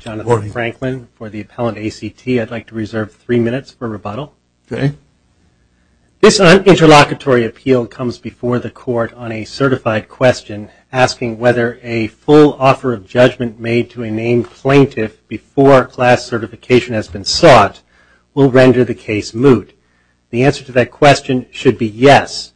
Jonathan Franklin for the Appellant ACT. I'd like to reserve three minutes for rebuttal. This un-interlocutory appeal comes before the Court on a certified question asking whether a full offer of judgment made to a named plaintiff before class certification has been sought will render the case moot. The answer to that question should be yes,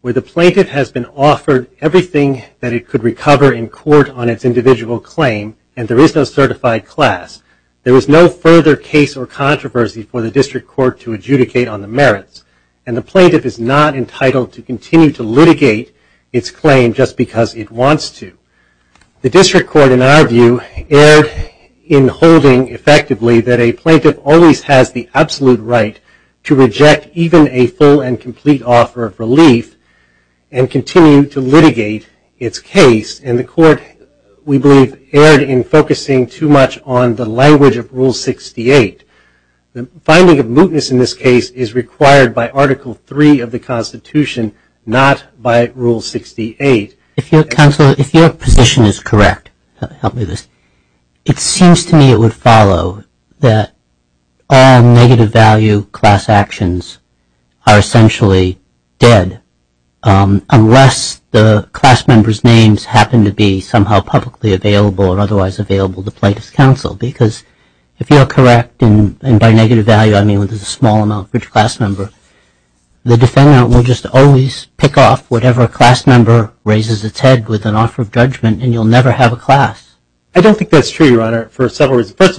where the plaintiff has been offered everything that it could recover in court on its individual claim, and there is no certified class. There is no further case or controversy for the District Court to adjudicate on the merits, and the plaintiff is not entitled to continue to litigate its claim just because it wants to. The District Court, in our view, erred in holding effectively that a plaintiff always has the absolute right to reject even a full and complete offer of relief and continue to litigate its case, and the Court, we believe, erred in focusing too much on the language of Rule 68. The finding of mootness in this case is required by Article III of the Constitution, not by Rule 68. If your position is correct, it seems to me it would follow that all negative value class actions are essentially dead unless the class member's names happen to be somehow publicly available and otherwise available to plaintiff's counsel, because if you're correct, and by negative value I mean when there's a small amount of rich class member, the defendant will just always pick off whatever class member raises its head with an offer of judgment, and you'll never have a class. I don't think that's true, Your Honor, for several cases, it's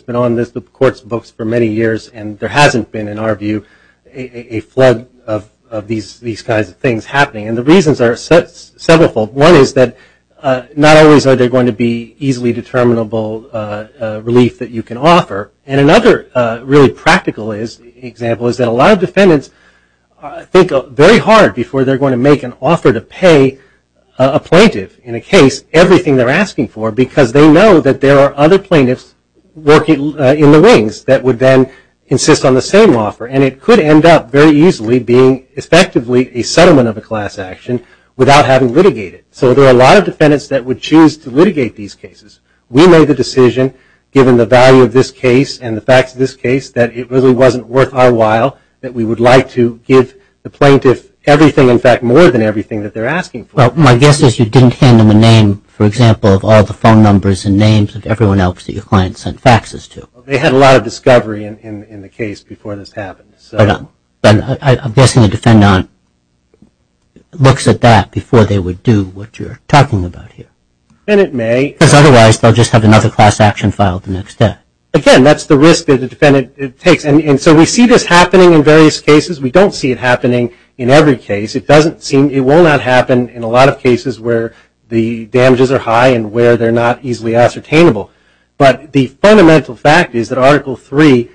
been on the Court's books for many years, and there hasn't been, in our view, a flood of these kinds of things happening, and the reasons are several. One is that not always are there going to be easily determinable relief that you can offer, and another really practical example is that a lot of defendants think very hard before they're going to make an offer to pay a plaintiff in a case everything they're asking for because they that there are other plaintiffs working in the wings that would then insist on the same offer, and it could end up very easily being effectively a settlement of a class action without having litigated. So there are a lot of defendants that would choose to litigate these cases. We made the decision, given the value of this case and the facts of this case, that it really wasn't worth our while, that we would like to give the plaintiff everything, in fact, more than everything that they're asking for. Well, my guess is you didn't hand them a name, for example, of all the phone numbers and names of everyone else that your client sent faxes to. They had a lot of discovery in the case before this happened. But I'm guessing the defendant looks at that before they would do what you're talking about here. And it may. Because otherwise they'll just have another class action filed the next day. Again, that's the risk that a defendant takes, and so we see this happening in various cases. We don't see it happening in every case. It doesn't seem, it will not happen in a lot of cases where the charges are high and where they're not easily ascertainable. But the fundamental fact is that Article III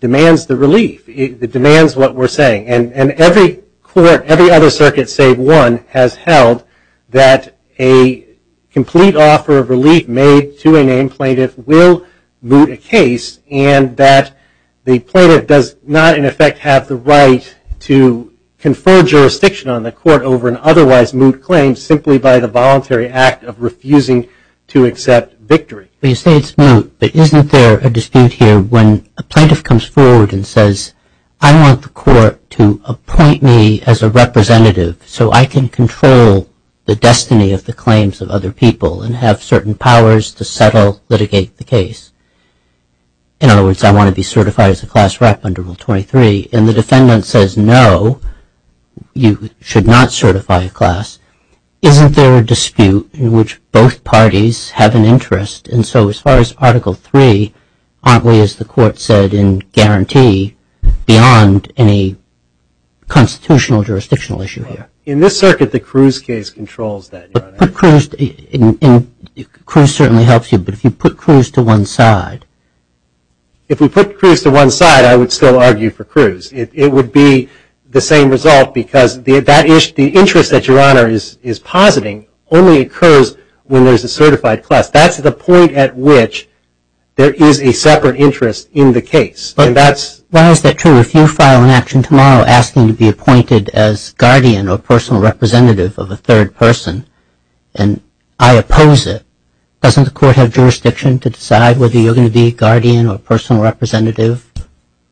demands the relief. It demands what we're saying. And every court, every other circuit save one, has held that a complete offer of relief made to a named plaintiff will moot a case, and that the plaintiff does not, in effect, have the right to confer jurisdiction on the court over an otherwise moot claim simply by the voluntary act of refusing to accept victory. But you say it's moot, but isn't there a dispute here when a plaintiff comes forward and says, I want the court to appoint me as a representative so I can control the destiny of the claims of other people and have certain powers to settle, litigate the case. In other words, I want to be certified as a class rep under Rule 23. And the defendant says, no, you should not certify a dispute in which both parties have an interest. And so as far as Article III, aren't we, as the court said, in guarantee beyond any constitutional jurisdictional issue here? In this circuit, the Cruz case controls that, Your Honor. But Cruz certainly helps you. But if you put Cruz to one side? If we put Cruz to one side, I would still argue for Cruz. It would be the same result, because the interest that Your Honor is positing only occurs when there's a certified class. That's the point at which there is a separate interest in the case. But why is that true? If you file an action tomorrow asking to be appointed as guardian or personal representative of a third person, and I oppose it, doesn't the court have jurisdiction to decide whether you're going to be guardian or personal representative?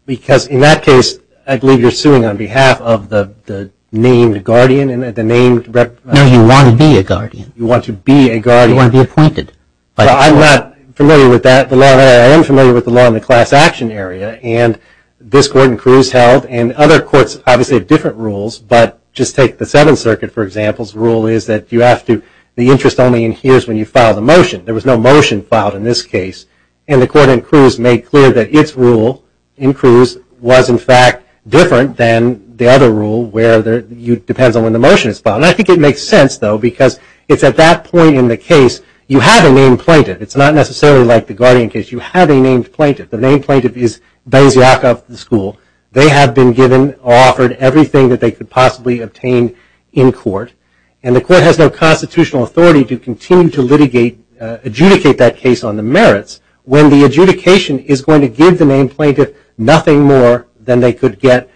Because in that case, I believe you're suing on behalf of the named guardian and the named representative. No, you want to be a guardian. You want to be a guardian. You want to be appointed. But I'm not familiar with that. I am familiar with the law in the class action area. And this court in Cruz held, and other courts obviously have different rules, but just take the Seventh Circuit, for example's rule is that you have to, the interest only adheres when you file the motion. There was no motion filed in this case. And the court in Cruz made clear that its rule in Cruz was, in fact, different than the other rule where it depends on when the motion is filed. And I think it makes sense, though, because it's at that point in the case you have a named plaintiff. It's not necessarily like the guardian case. You have a named plaintiff. The named plaintiff is Benziac of the school. They have been given, offered everything that they could possibly obtain in court. And the court has no constitutional authority to continue to litigate, adjudicate that case on the merits when the adjudication is going to give the named plaintiff nothing more than they could get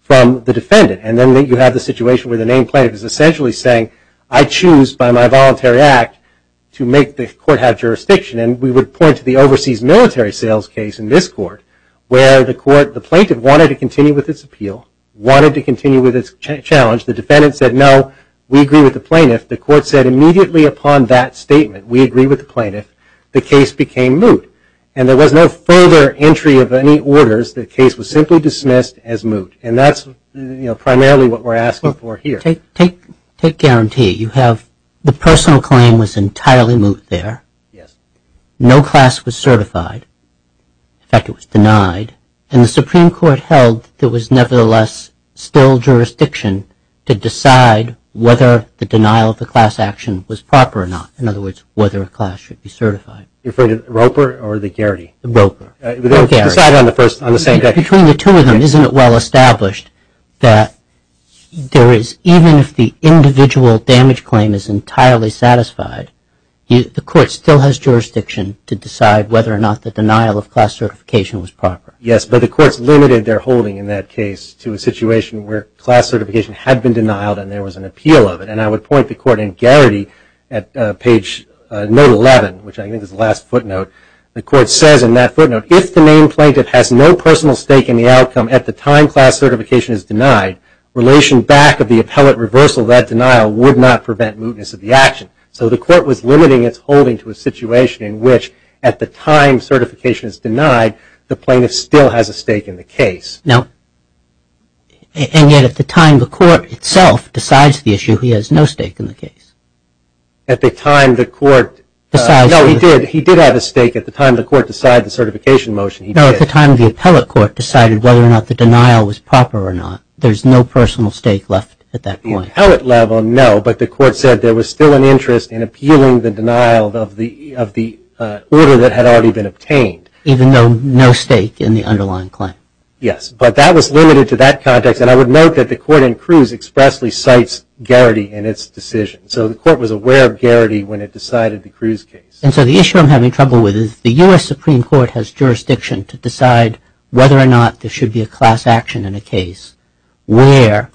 from the defendant. And then you have the situation where the named plaintiff is essentially saying, I choose by my voluntary act to make the court have jurisdiction. And we would point to the overseas military sales case in this court where the plaintiff wanted to continue with its appeal, wanted to continue with its challenge. The defendant said, no, we agree with the plaintiff. The court said immediately upon that statement, we agree with the plaintiff. The case became moot. And there was no further entry of any orders. The case was simply dismissed as moot. And that's primarily what we're asking for here. Take guarantee. You have the personal claim was entirely moot there. Yes. No class was certified. In fact, it was denied. And the Supreme Court held there was nevertheless still jurisdiction to decide whether the denial of the class action was proper or not. In other words, whether a class should be certified. You're referring to Roper or the Garrity? The Roper. The Garrity. Decide on the first, on the second. Between the two of them, isn't it well established that there is, even if the individual damage claim is entirely satisfied, the court still has jurisdiction to decide whether or not the denial of class certification was proper. Yes, but the courts limited their holding in that case to a situation where class certification had been denied and there was an appeal of it. And I would point the court in Garrity at page note 11, which I think is the last footnote. The court says in that footnote, if the main plaintiff has no personal stake in the outcome at the time class certification is denied, relation back of the appellate reversal of that denial would not prevent mootness of the action. So the court was limiting its holding to a situation in which at the time certification is denied, the plaintiff still has a stake in the case. No, and yet at the time the court itself decides the issue, he has no stake in the case. At the time the court decides. No, he did. He did have a stake at the time the court decided the certification motion, he did. No, at the time the appellate court decided whether or not the denial was proper or not. There's no personal stake left at that point. At the appellate level, no, but the court said there was still an interest in appealing the denial of the order that had already been obtained. Even though no stake in the underlying claim. Yes, but that was limited to that context, and I would note that the court in Cruz expressly cites Garrity in its decision. So the court was aware of Garrity when it decided the Cruz case. And so the issue I'm having trouble with is the US Supreme Court has jurisdiction to decide whether or not there should be a class action in a case where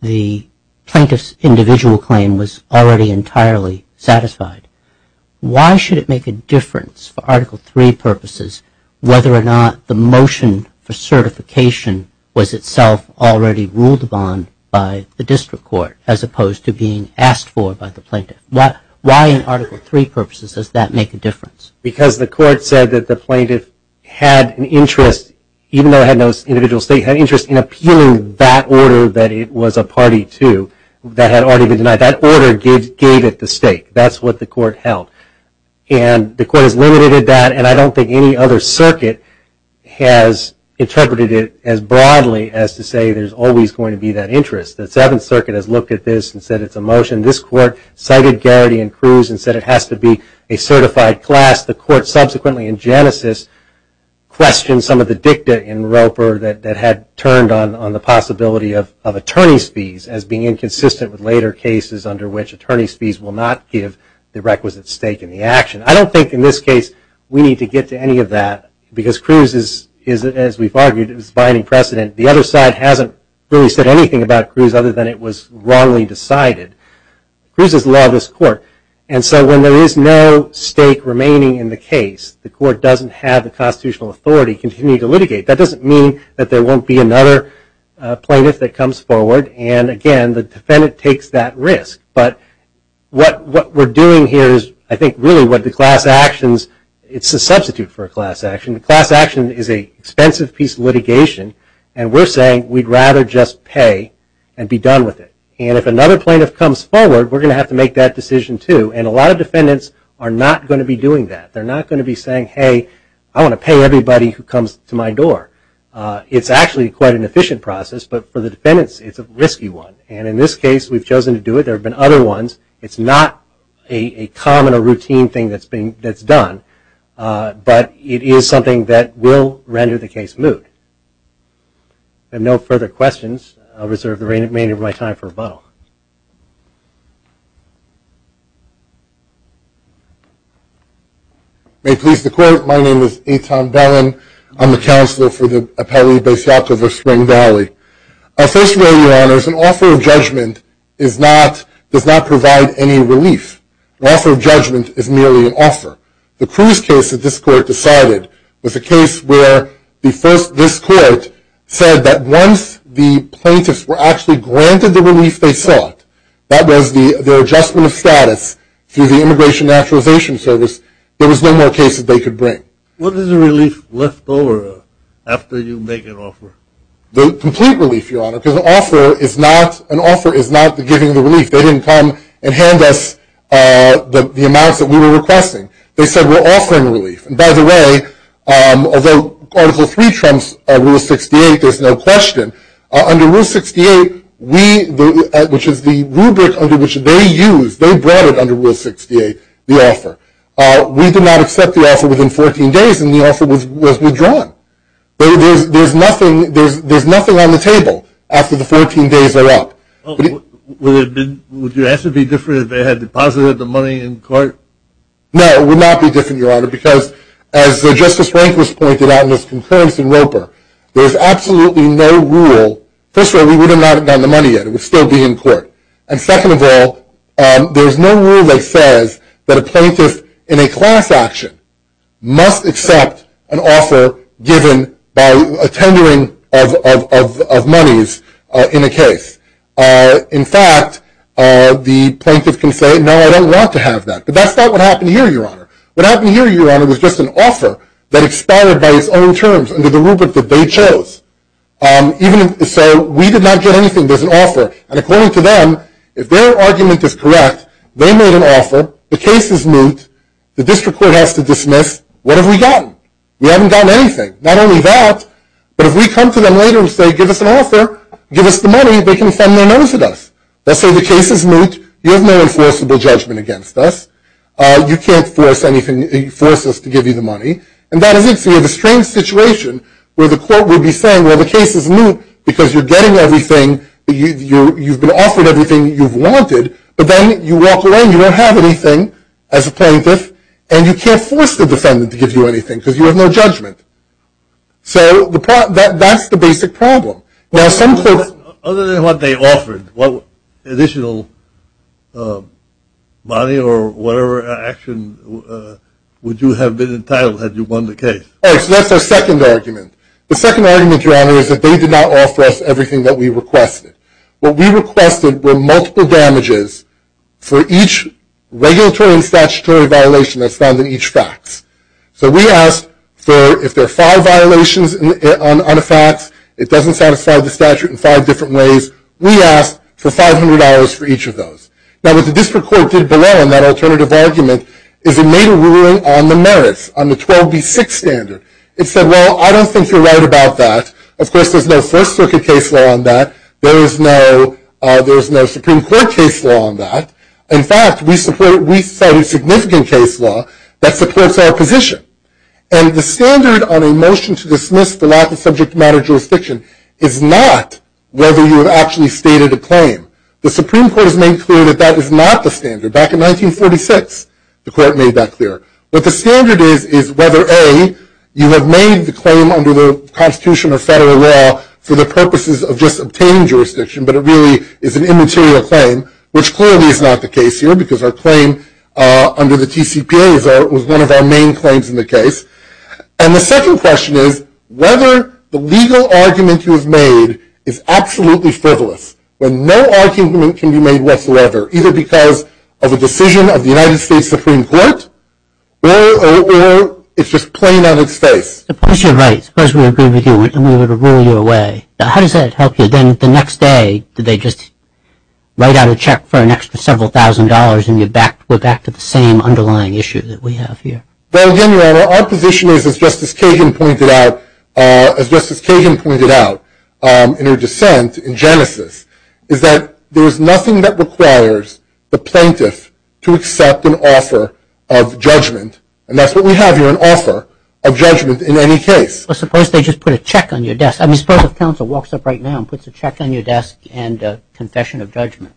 the plaintiff's individual claim was already entirely satisfied. Why should it make a difference for Article III purposes whether or not the motion for certification was itself already ruled upon by the district court as opposed to being asked for by the plaintiff? Why in Article III purposes does that make a difference? Because the court said that the plaintiff had an interest, even though it had no individual stake, had interest in appealing that order that it was a party to that had already been denied. That order gave it the stake. That's what the court held. And the court has limited that, and I don't think any other circuit has interpreted it as broadly as to say there's always going to be that interest. The Seventh Circuit has looked at this and said it's a motion. This court cited Garrity and Cruz and said it has to be a certified class. The court subsequently in Genesis questioned some of the dicta in Roper that had turned on the possibility of attorney's fees as being inconsistent with later cases under which attorney's fees will not give the requisite stake in the action. I don't think in this case we need to get to any of that because Cruz is, as we've argued, is binding precedent. The other side hasn't really said anything about Cruz other than it was wrongly decided. Cruz is the law of this court. And so when there is no stake remaining in the case, the court doesn't have the constitutional authority to continue to litigate. That doesn't mean that there won't be another plaintiff that comes forward. And again, the defendant takes that risk. But what we're doing here is I think really what the class actions, it's a substitute for a class action. The class action is an expensive piece of litigation and we're saying we'd rather just pay and be done with it. And if another plaintiff comes forward, we're going to have to make that decision too. And a lot of defendants are not going to be doing that. They're not going to be saying, hey, I want to pay everybody who comes to my door. It's actually quite an efficient process. But for the defendants, it's a risky one. And in this case, we've chosen to do it. There have been other ones. It's not a common or routine thing that's done. But it is something that will render the case moot. I have no further questions. I'll reserve the remainder of my time for rebuttal. May it please the Court. My name is Etan Bellin. I'm the Counselor for the Appellee Basiak of Spring Valley. Our first ruling, Your Honors, an offer of judgment does not provide any relief. An offer of judgment is merely an offer. The Cruz case that this Court decided was a case where this Court said that once the that was the adjustment of status through the Immigration Naturalization Service, there was no more cases they could bring. What is the relief left over after you make an offer? The complete relief, Your Honor, because an offer is not giving the relief. They didn't come and hand us the amounts that we were requesting. They said we're offering relief. And by the way, although Article III trumps Rule 68, there's no question. Under Rule 68, which is the rubric under which they used, they brought it under Rule 68, the offer. We did not accept the offer within 14 days, and the offer was withdrawn. There's nothing on the table after the 14 days are up. Would your answer be different if they had deposited the money in court? No, it would not be different, Your Honor, because as Justice Rehnquist pointed out in his concurrence in Roper, there's absolutely no rule. First of all, we would not have gotten the money yet. It would still be in court. And second of all, there's no rule that says that a plaintiff in a class action must accept an offer given by a tendering of monies in a case. In fact, the plaintiff can say, no, I don't want to have that. But that's not what happened here, Your Honor. What happened here, Your Honor, was just an offer that expired by its own terms under the rubric that they chose. So we did not get anything. There's an offer. And according to them, if their argument is correct, they made an offer, the case is moot, the district court has to dismiss, what have we gotten? We haven't gotten anything. Not only that, but if we come to them later and say, give us an offer, give us the money, they can thumb their nose at us. They'll say the case is moot, you have no enforceable judgment against us, you can't force us to give you the money. And that is it. So you have a strange situation where the court would be saying, well, the case is moot because you're getting everything, you've been offered everything you've wanted, but then you walk away and you don't have anything as a plaintiff, and you can't force the defendant to give you anything because you have no judgment. So that's the basic problem. Now some courts- Other than what they offered, what additional money or whatever action would you have been entitled had you won the case? All right, so that's our second argument. The second argument, Your Honor, is that they did not offer us everything that we requested. What we requested were multiple damages for each regulatory and statutory violation that's found in each fax. So we asked for, if there are five violations on a fax, it doesn't satisfy the statute in five different ways. We asked for $500 for each of those. Now what the district court did below in that alternative argument is it made a ruling on the merits, on the 12B6 standard. It said, well, I don't think you're right about that. Of course, there's no First Circuit case law on that. There is no Supreme Court case law on that. In fact, we cited significant case law that supports our position. And the standard on a motion to dismiss the lack of subject matter jurisdiction is not whether you have actually stated a claim. The Supreme Court has made clear that that is not the standard. Back in 1946, the court made that clear. What the standard is is whether, A, you have made the claim under the Constitution or federal law for the purposes of just obtaining jurisdiction, but it really is an immaterial claim, which clearly is not the case here because our claim under the TCPA was one of our main claims in the case. And the second question is whether the legal argument you have made is absolutely frivolous, when no argument can be made whatsoever, either because of a decision of the United States Supreme Court or it's just plain on its face. Suppose you're right. Suppose we agree with you and we were to rule you away. How does that help you? Then the next day, do they just write out a check for an extra several thousand dollars and we're back to the same underlying issue that we have here? Well, again, Your Honor, our position is, as Justice Kagan pointed out in her dissent in Genesis, is that there is nothing that requires the plaintiff to accept an offer of judgment. And that's what we have here, an offer of judgment in any case. But suppose they just put a check on your desk. I mean, suppose if counsel walks up right now and puts a check on your desk and a confession of judgment.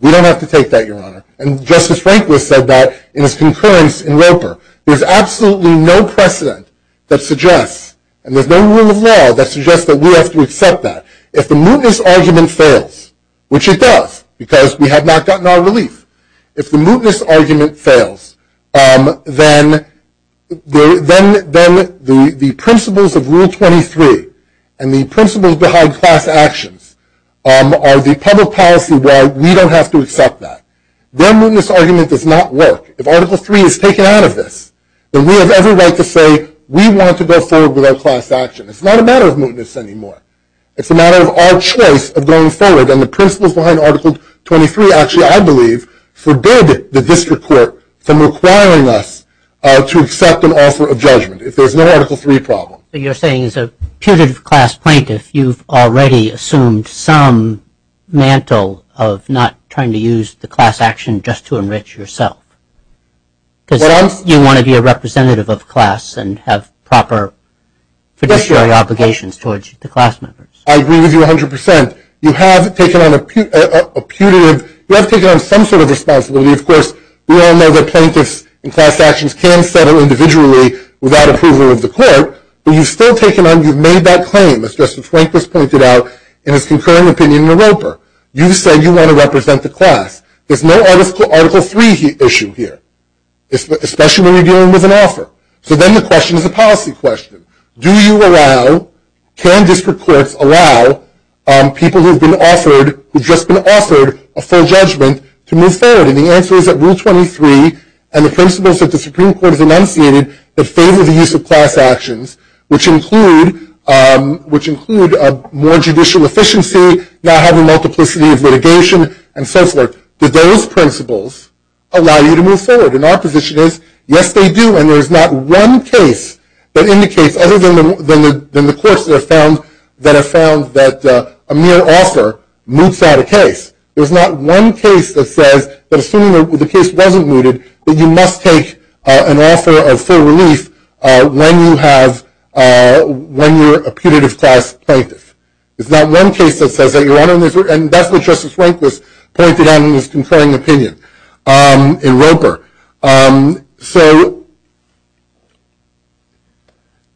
We don't have to take that, Your Honor. And Justice Rehnquist said that in his concurrence in Roper. There's absolutely no precedent that suggests, and there's no rule of law that suggests that we have to accept that. If the mootness argument fails, which it does, because we have not gotten our relief. If the mootness argument fails, then the principles of Rule 23 and the principles behind class actions are the public policy why we don't have to accept that. Their mootness argument does not work. If Article 3 is taken out of this, then we have every right to say we want to go forward with our class action. It's not a matter of mootness anymore. It's a matter of our choice of going forward. And the principles behind Article 23 actually, I believe, forbid the district court from requiring us to accept an offer of judgment if there's no Article 3 problem. You're saying as a putative class plaintiff, you've already assumed some mantle of not trying to use the class action just to enrich yourself. Because you want to be a representative of class and have proper fiduciary obligations towards the class members. I agree with you 100%. You have taken on a putative, you have taken on some sort of responsibility. Of course, we all know that plaintiffs and class actions can settle individually without approval of the court. But you've still taken on, you've made that claim, as Justice Rehnquist pointed out in his concurring opinion in Naropa. You've said you want to represent the class. There's no Article 3 issue here, especially when you're dealing with an offer. So then the question is a policy question. Do you allow, can district courts allow people who've just been offered a full judgment to move forward? And the answer is that Rule 23 and the principles that the Supreme Court has enunciated that are a case of class actions, which include more judicial efficiency, not having multiplicity of litigation, and so forth. Do those principles allow you to move forward? And our position is, yes, they do. And there's not one case that indicates other than the courts that have found that a mere offer moots out a case. There's not one case that says that assuming the case wasn't mooted, that you must take an offer of full relief when you have, when you're a putative class plaintiff. There's not one case that says that you want to, and that's what Justice Rehnquist pointed out in his concurring opinion in Naropa. So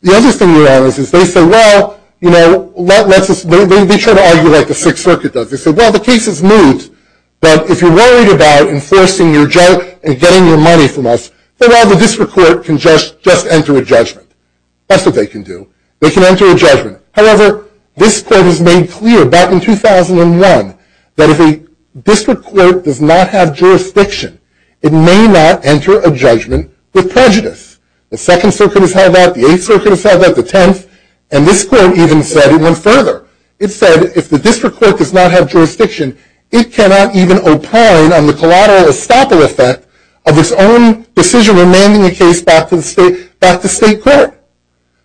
the other thing we're on is they say, well, you know, let's just, they try to argue like the Sixth Circuit does. They say, well, the case is moot, but if you're worried about enforcing your judge and getting your money from us, well, the district court can just, just enter a judgment. That's what they can do. They can enter a judgment. However, this court has made clear back in 2001 that if a district court does not have jurisdiction, it may not enter a judgment with prejudice. The Second Circuit has held that. The Eighth Circuit has held that. The Tenth. And this court even said it went further. It said if the district court does not have jurisdiction, it cannot even opine on the stopper effect of its own decision remanding a case back to the state, back to state court.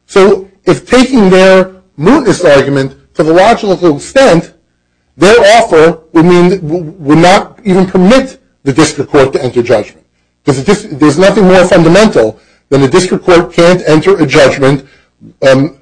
So if taking their mootness argument to the logical extent, their offer would mean, would not even permit the district court to enter judgment. Because there's nothing more fundamental than the district court can't enter a judgment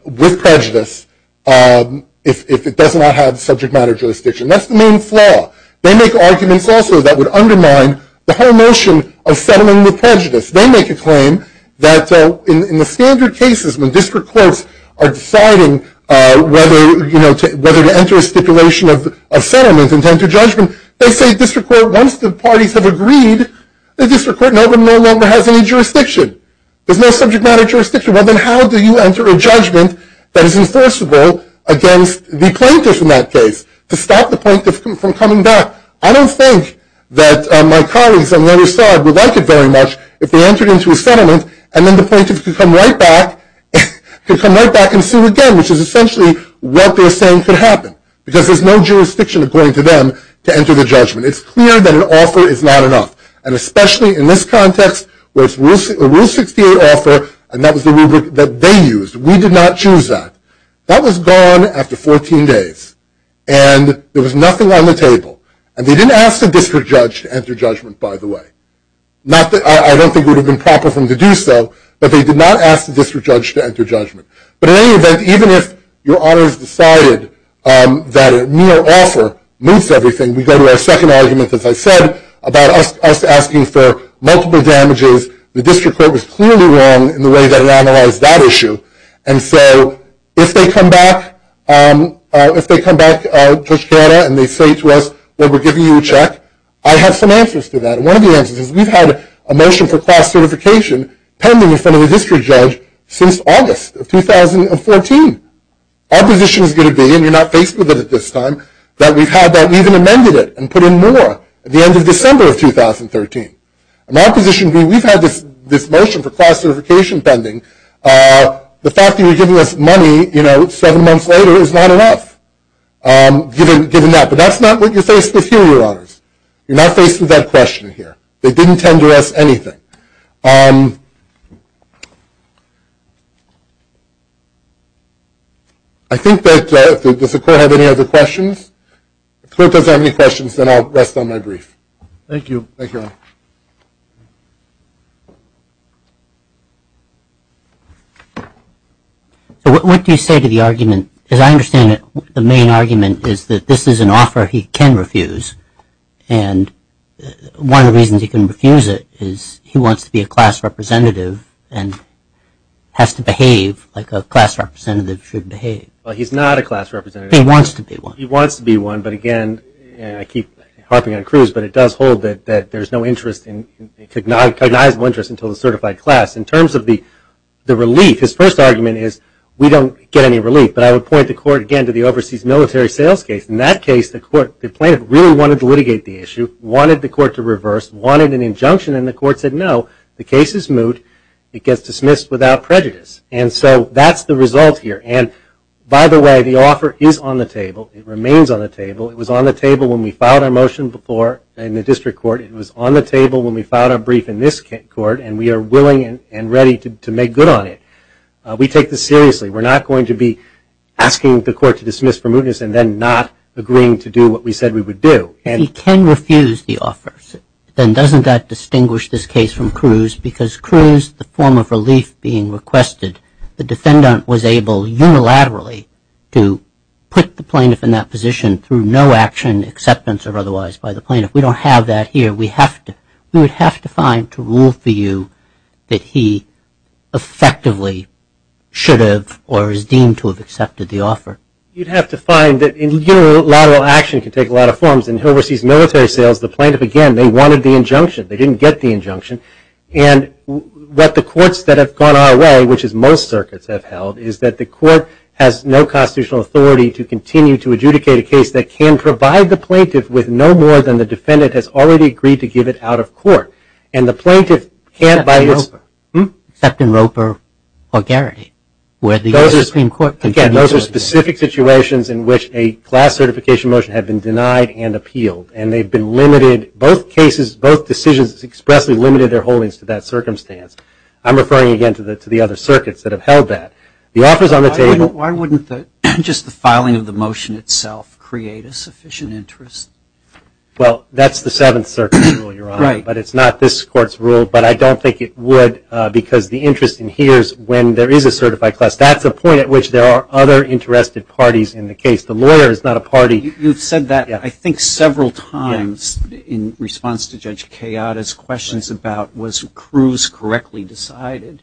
with prejudice if it does not have subject matter jurisdiction. That's the main flaw. They make arguments also that would undermine the whole notion of settlement with prejudice. They make a claim that in the standard cases when district courts are deciding whether, you know, whether to enter a stipulation of settlement and enter judgment, they say district court, once the parties have agreed, the district court no longer has any jurisdiction. There's no subject matter jurisdiction. Well, then how do you enter a judgment that is enforceable against the plaintiff in that case to stop the plaintiff from coming back? I don't think that my colleagues on the other side would like it very much if they entered into a settlement and then the plaintiff can come right back, can come right back and sue again, which is essentially what they're saying could happen. Because there's no jurisdiction according to them to enter the judgment. It's clear that an offer is not enough. And especially in this context where it's a Rule 68 offer and that was the rubric that they used. We did not choose that. That was gone after 14 days and there was nothing on the table. And they didn't ask the district judge to enter judgment, by the way. Not that I don't think it would have been proper for them to do so, but they did not ask the district judge to enter judgment. But in any event, even if your honors decided that a mere offer moves everything, we go to our second argument, as I said, about us asking for multiple damages. The district court was clearly wrong in the way that it analyzed that issue. And so, if they come back, if they come back to us and they say to us, well, we're giving you a check, I have some answers to that. And one of the answers is we've had a motion for cross-certification pending in front of the district judge since August of 2014. Our position is going to be, and you're not faced with it at this time, that we've had that, we even amended it and put in more at the end of December of 2013. And my position would be we've had this motion for cross-certification pending. The fact that you're giving us money seven months later is not enough, given that. But that's not what you're faced with here, your honors. You're not faced with that question here. They didn't tend to ask anything. I think that, does the court have any other questions? If the court doesn't have any questions, then I'll rest on my brief. Thank you. Thank you. What do you say to the argument? As I understand it, the main argument is that this is an offer he can refuse. And one of the reasons he can refuse it is he wants to be a class representative and has to behave like a class representative should behave. Well, he's not a class representative. He wants to be one. He wants to be one. I keep harping on Cruz. But it does hold that there's no cognizable interest until the certified class. In terms of the relief, his first argument is we don't get any relief. But I would point the court, again, to the overseas military sales case. In that case, the plaintiff really wanted to litigate the issue, wanted the court to reverse, wanted an injunction. And the court said, no, the case is moot. It gets dismissed without prejudice. And so that's the result here. And by the way, the offer is on the table. It remains on the table. It was on the table when we filed our motion before in the district court. It was on the table when we filed our brief in this court. And we are willing and ready to make good on it. We take this seriously. We're not going to be asking the court to dismiss for mootness and then not agreeing to do what we said we would do. He can refuse the offer. Then doesn't that distinguish this case from Cruz? Because Cruz, the form of relief being requested, the defendant was able unilaterally to put the plaintiff in that position through no action, acceptance of otherwise, by the plaintiff. We don't have that here. We would have to find to rule for you that he effectively should have or is deemed to have accepted the offer. You'd have to find that unilateral action can take a lot of forms. In overseas military sales, the plaintiff, again, they wanted the injunction. They didn't get the injunction. And what the courts that have gone our way, which is most circuits have held, is that the court has no constitutional authority to continue to adjudicate a case that can provide the plaintiff with no more than the defendant has already agreed to give it out of court. And the plaintiff can't by its- Except in Roper or Garrity, where the U.S. Supreme Court- Again, those are specific situations in which a class certification motion had been denied and appealed. And they've been limited, both cases, both decisions expressly limited their holdings to that circumstance. I'm referring again to the other circuits that have held that. Why wouldn't just the filing of the motion itself create a sufficient interest? Well, that's the Seventh Circuit's rule, Your Honor. But it's not this court's rule. But I don't think it would because the interest in here is when there is a certified class. That's a point at which there are other interested parties in the case. The lawyer is not a party. You've said that, I think, several times in response to Judge Kayada's questions about was Cruz correctly decided.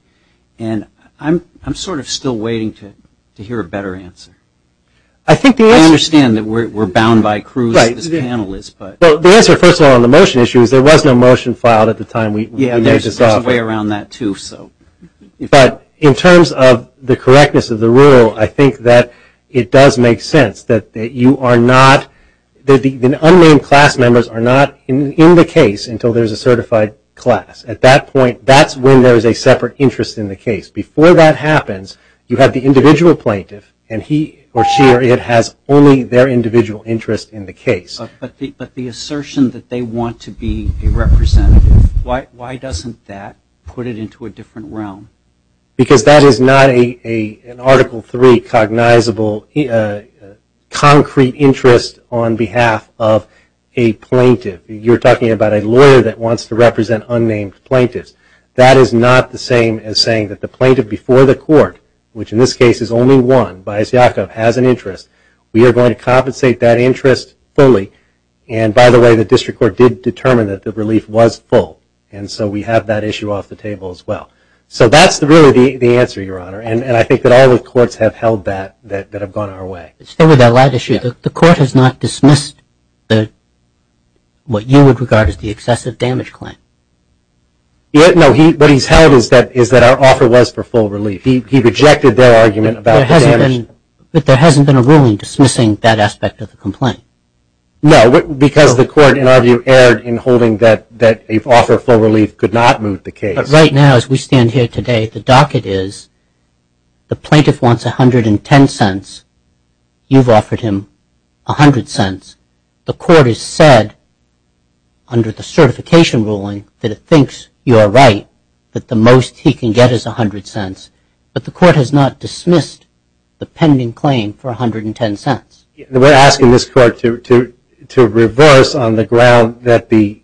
And I'm sort of still waiting to hear a better answer. I think the answer- I understand that we're bound by Cruz as a panelist, but- Well, the answer, first of all, on the motion issue is there was no motion filed at the time we- Yeah, there's a way around that too, so- But in terms of the correctness of the rule, I think that it does make sense that you are not- The unnamed class members are not in the case until there's a certified class. At that point, that's when there's a separate interest in the case. Before that happens, you have the individual plaintiff, and he or she or it has only their individual interest in the case. But the assertion that they want to be a representative, why doesn't that put it into a different realm? Because that is not an Article III cognizable concrete interest on behalf of a plaintiff. You're talking about a lawyer that wants to represent unnamed plaintiffs. That is not the same as saying that the plaintiff before the court, which in this case is only one, Bias Yaakov, has an interest. We are going to compensate that interest fully. And by the way, the district court did determine that the relief was full. And so we have that issue off the table as well. So that's really the answer, Your Honor. And I think that all the courts have held that, that have gone our way. Still with that light issue, the court has not dismissed what you would regard as the excessive damage claim. No, what he's held is that our offer was for full relief. He rejected their argument about the damage. But there hasn't been a ruling dismissing that aspect of the complaint. No, because the court, in our view, erred in holding that an offer of full relief could not move the case. Right now, as we stand here today, the docket is the plaintiff wants $0.110. You've offered him $0.100. The court has said, under the certification ruling, that it thinks you are right, that the most he can get is $0.100. But the court has not dismissed the pending claim for $0.110. We're asking this court to reverse on the ground that the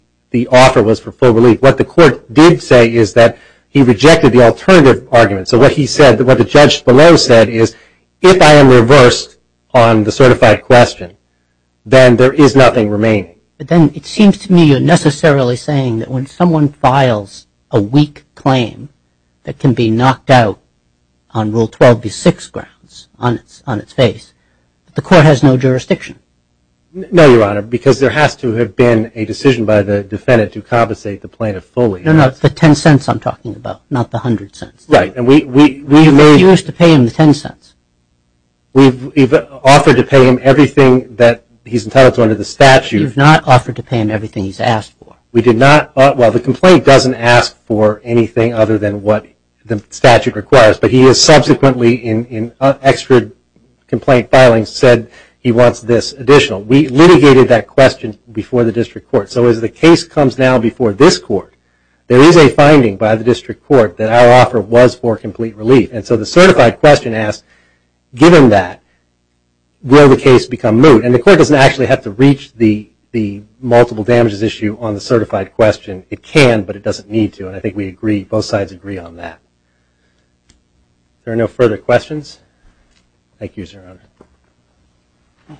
offer was for full relief. What the court did say is that he rejected the alternative argument. So what he said, what the judge below said is, if I am reversed on the certified question, then there is nothing remaining. But then it seems to me you're necessarily saying that when someone files a weak claim that can be knocked out on Rule 12b6 grounds, on its face, the court has no jurisdiction. No, Your Honor, because there has to have been a decision by the defendant to compensate the plaintiff fully. No, no, it's the $0.10 I'm talking about, not the $0.10. Right. And we've made- You refused to pay him the $0.10. We've offered to pay him everything that he's entitled to under the statute. You've not offered to pay him everything he's asked for. We did not. Well, the complaint doesn't ask for anything other than what the statute requires. But he has subsequently, in extra complaint filing, said he wants this additional. We litigated that question before the district court. So as the case comes now before this court, there is a finding by the district court that our offer was for complete relief. And so the certified question asks, given that, will the case become moot? And the court doesn't actually have to reach the multiple damages issue on the certified question. It can, but it doesn't need to. And I think we agree, both sides agree on that. There are no further questions. Thank you, Your Honor.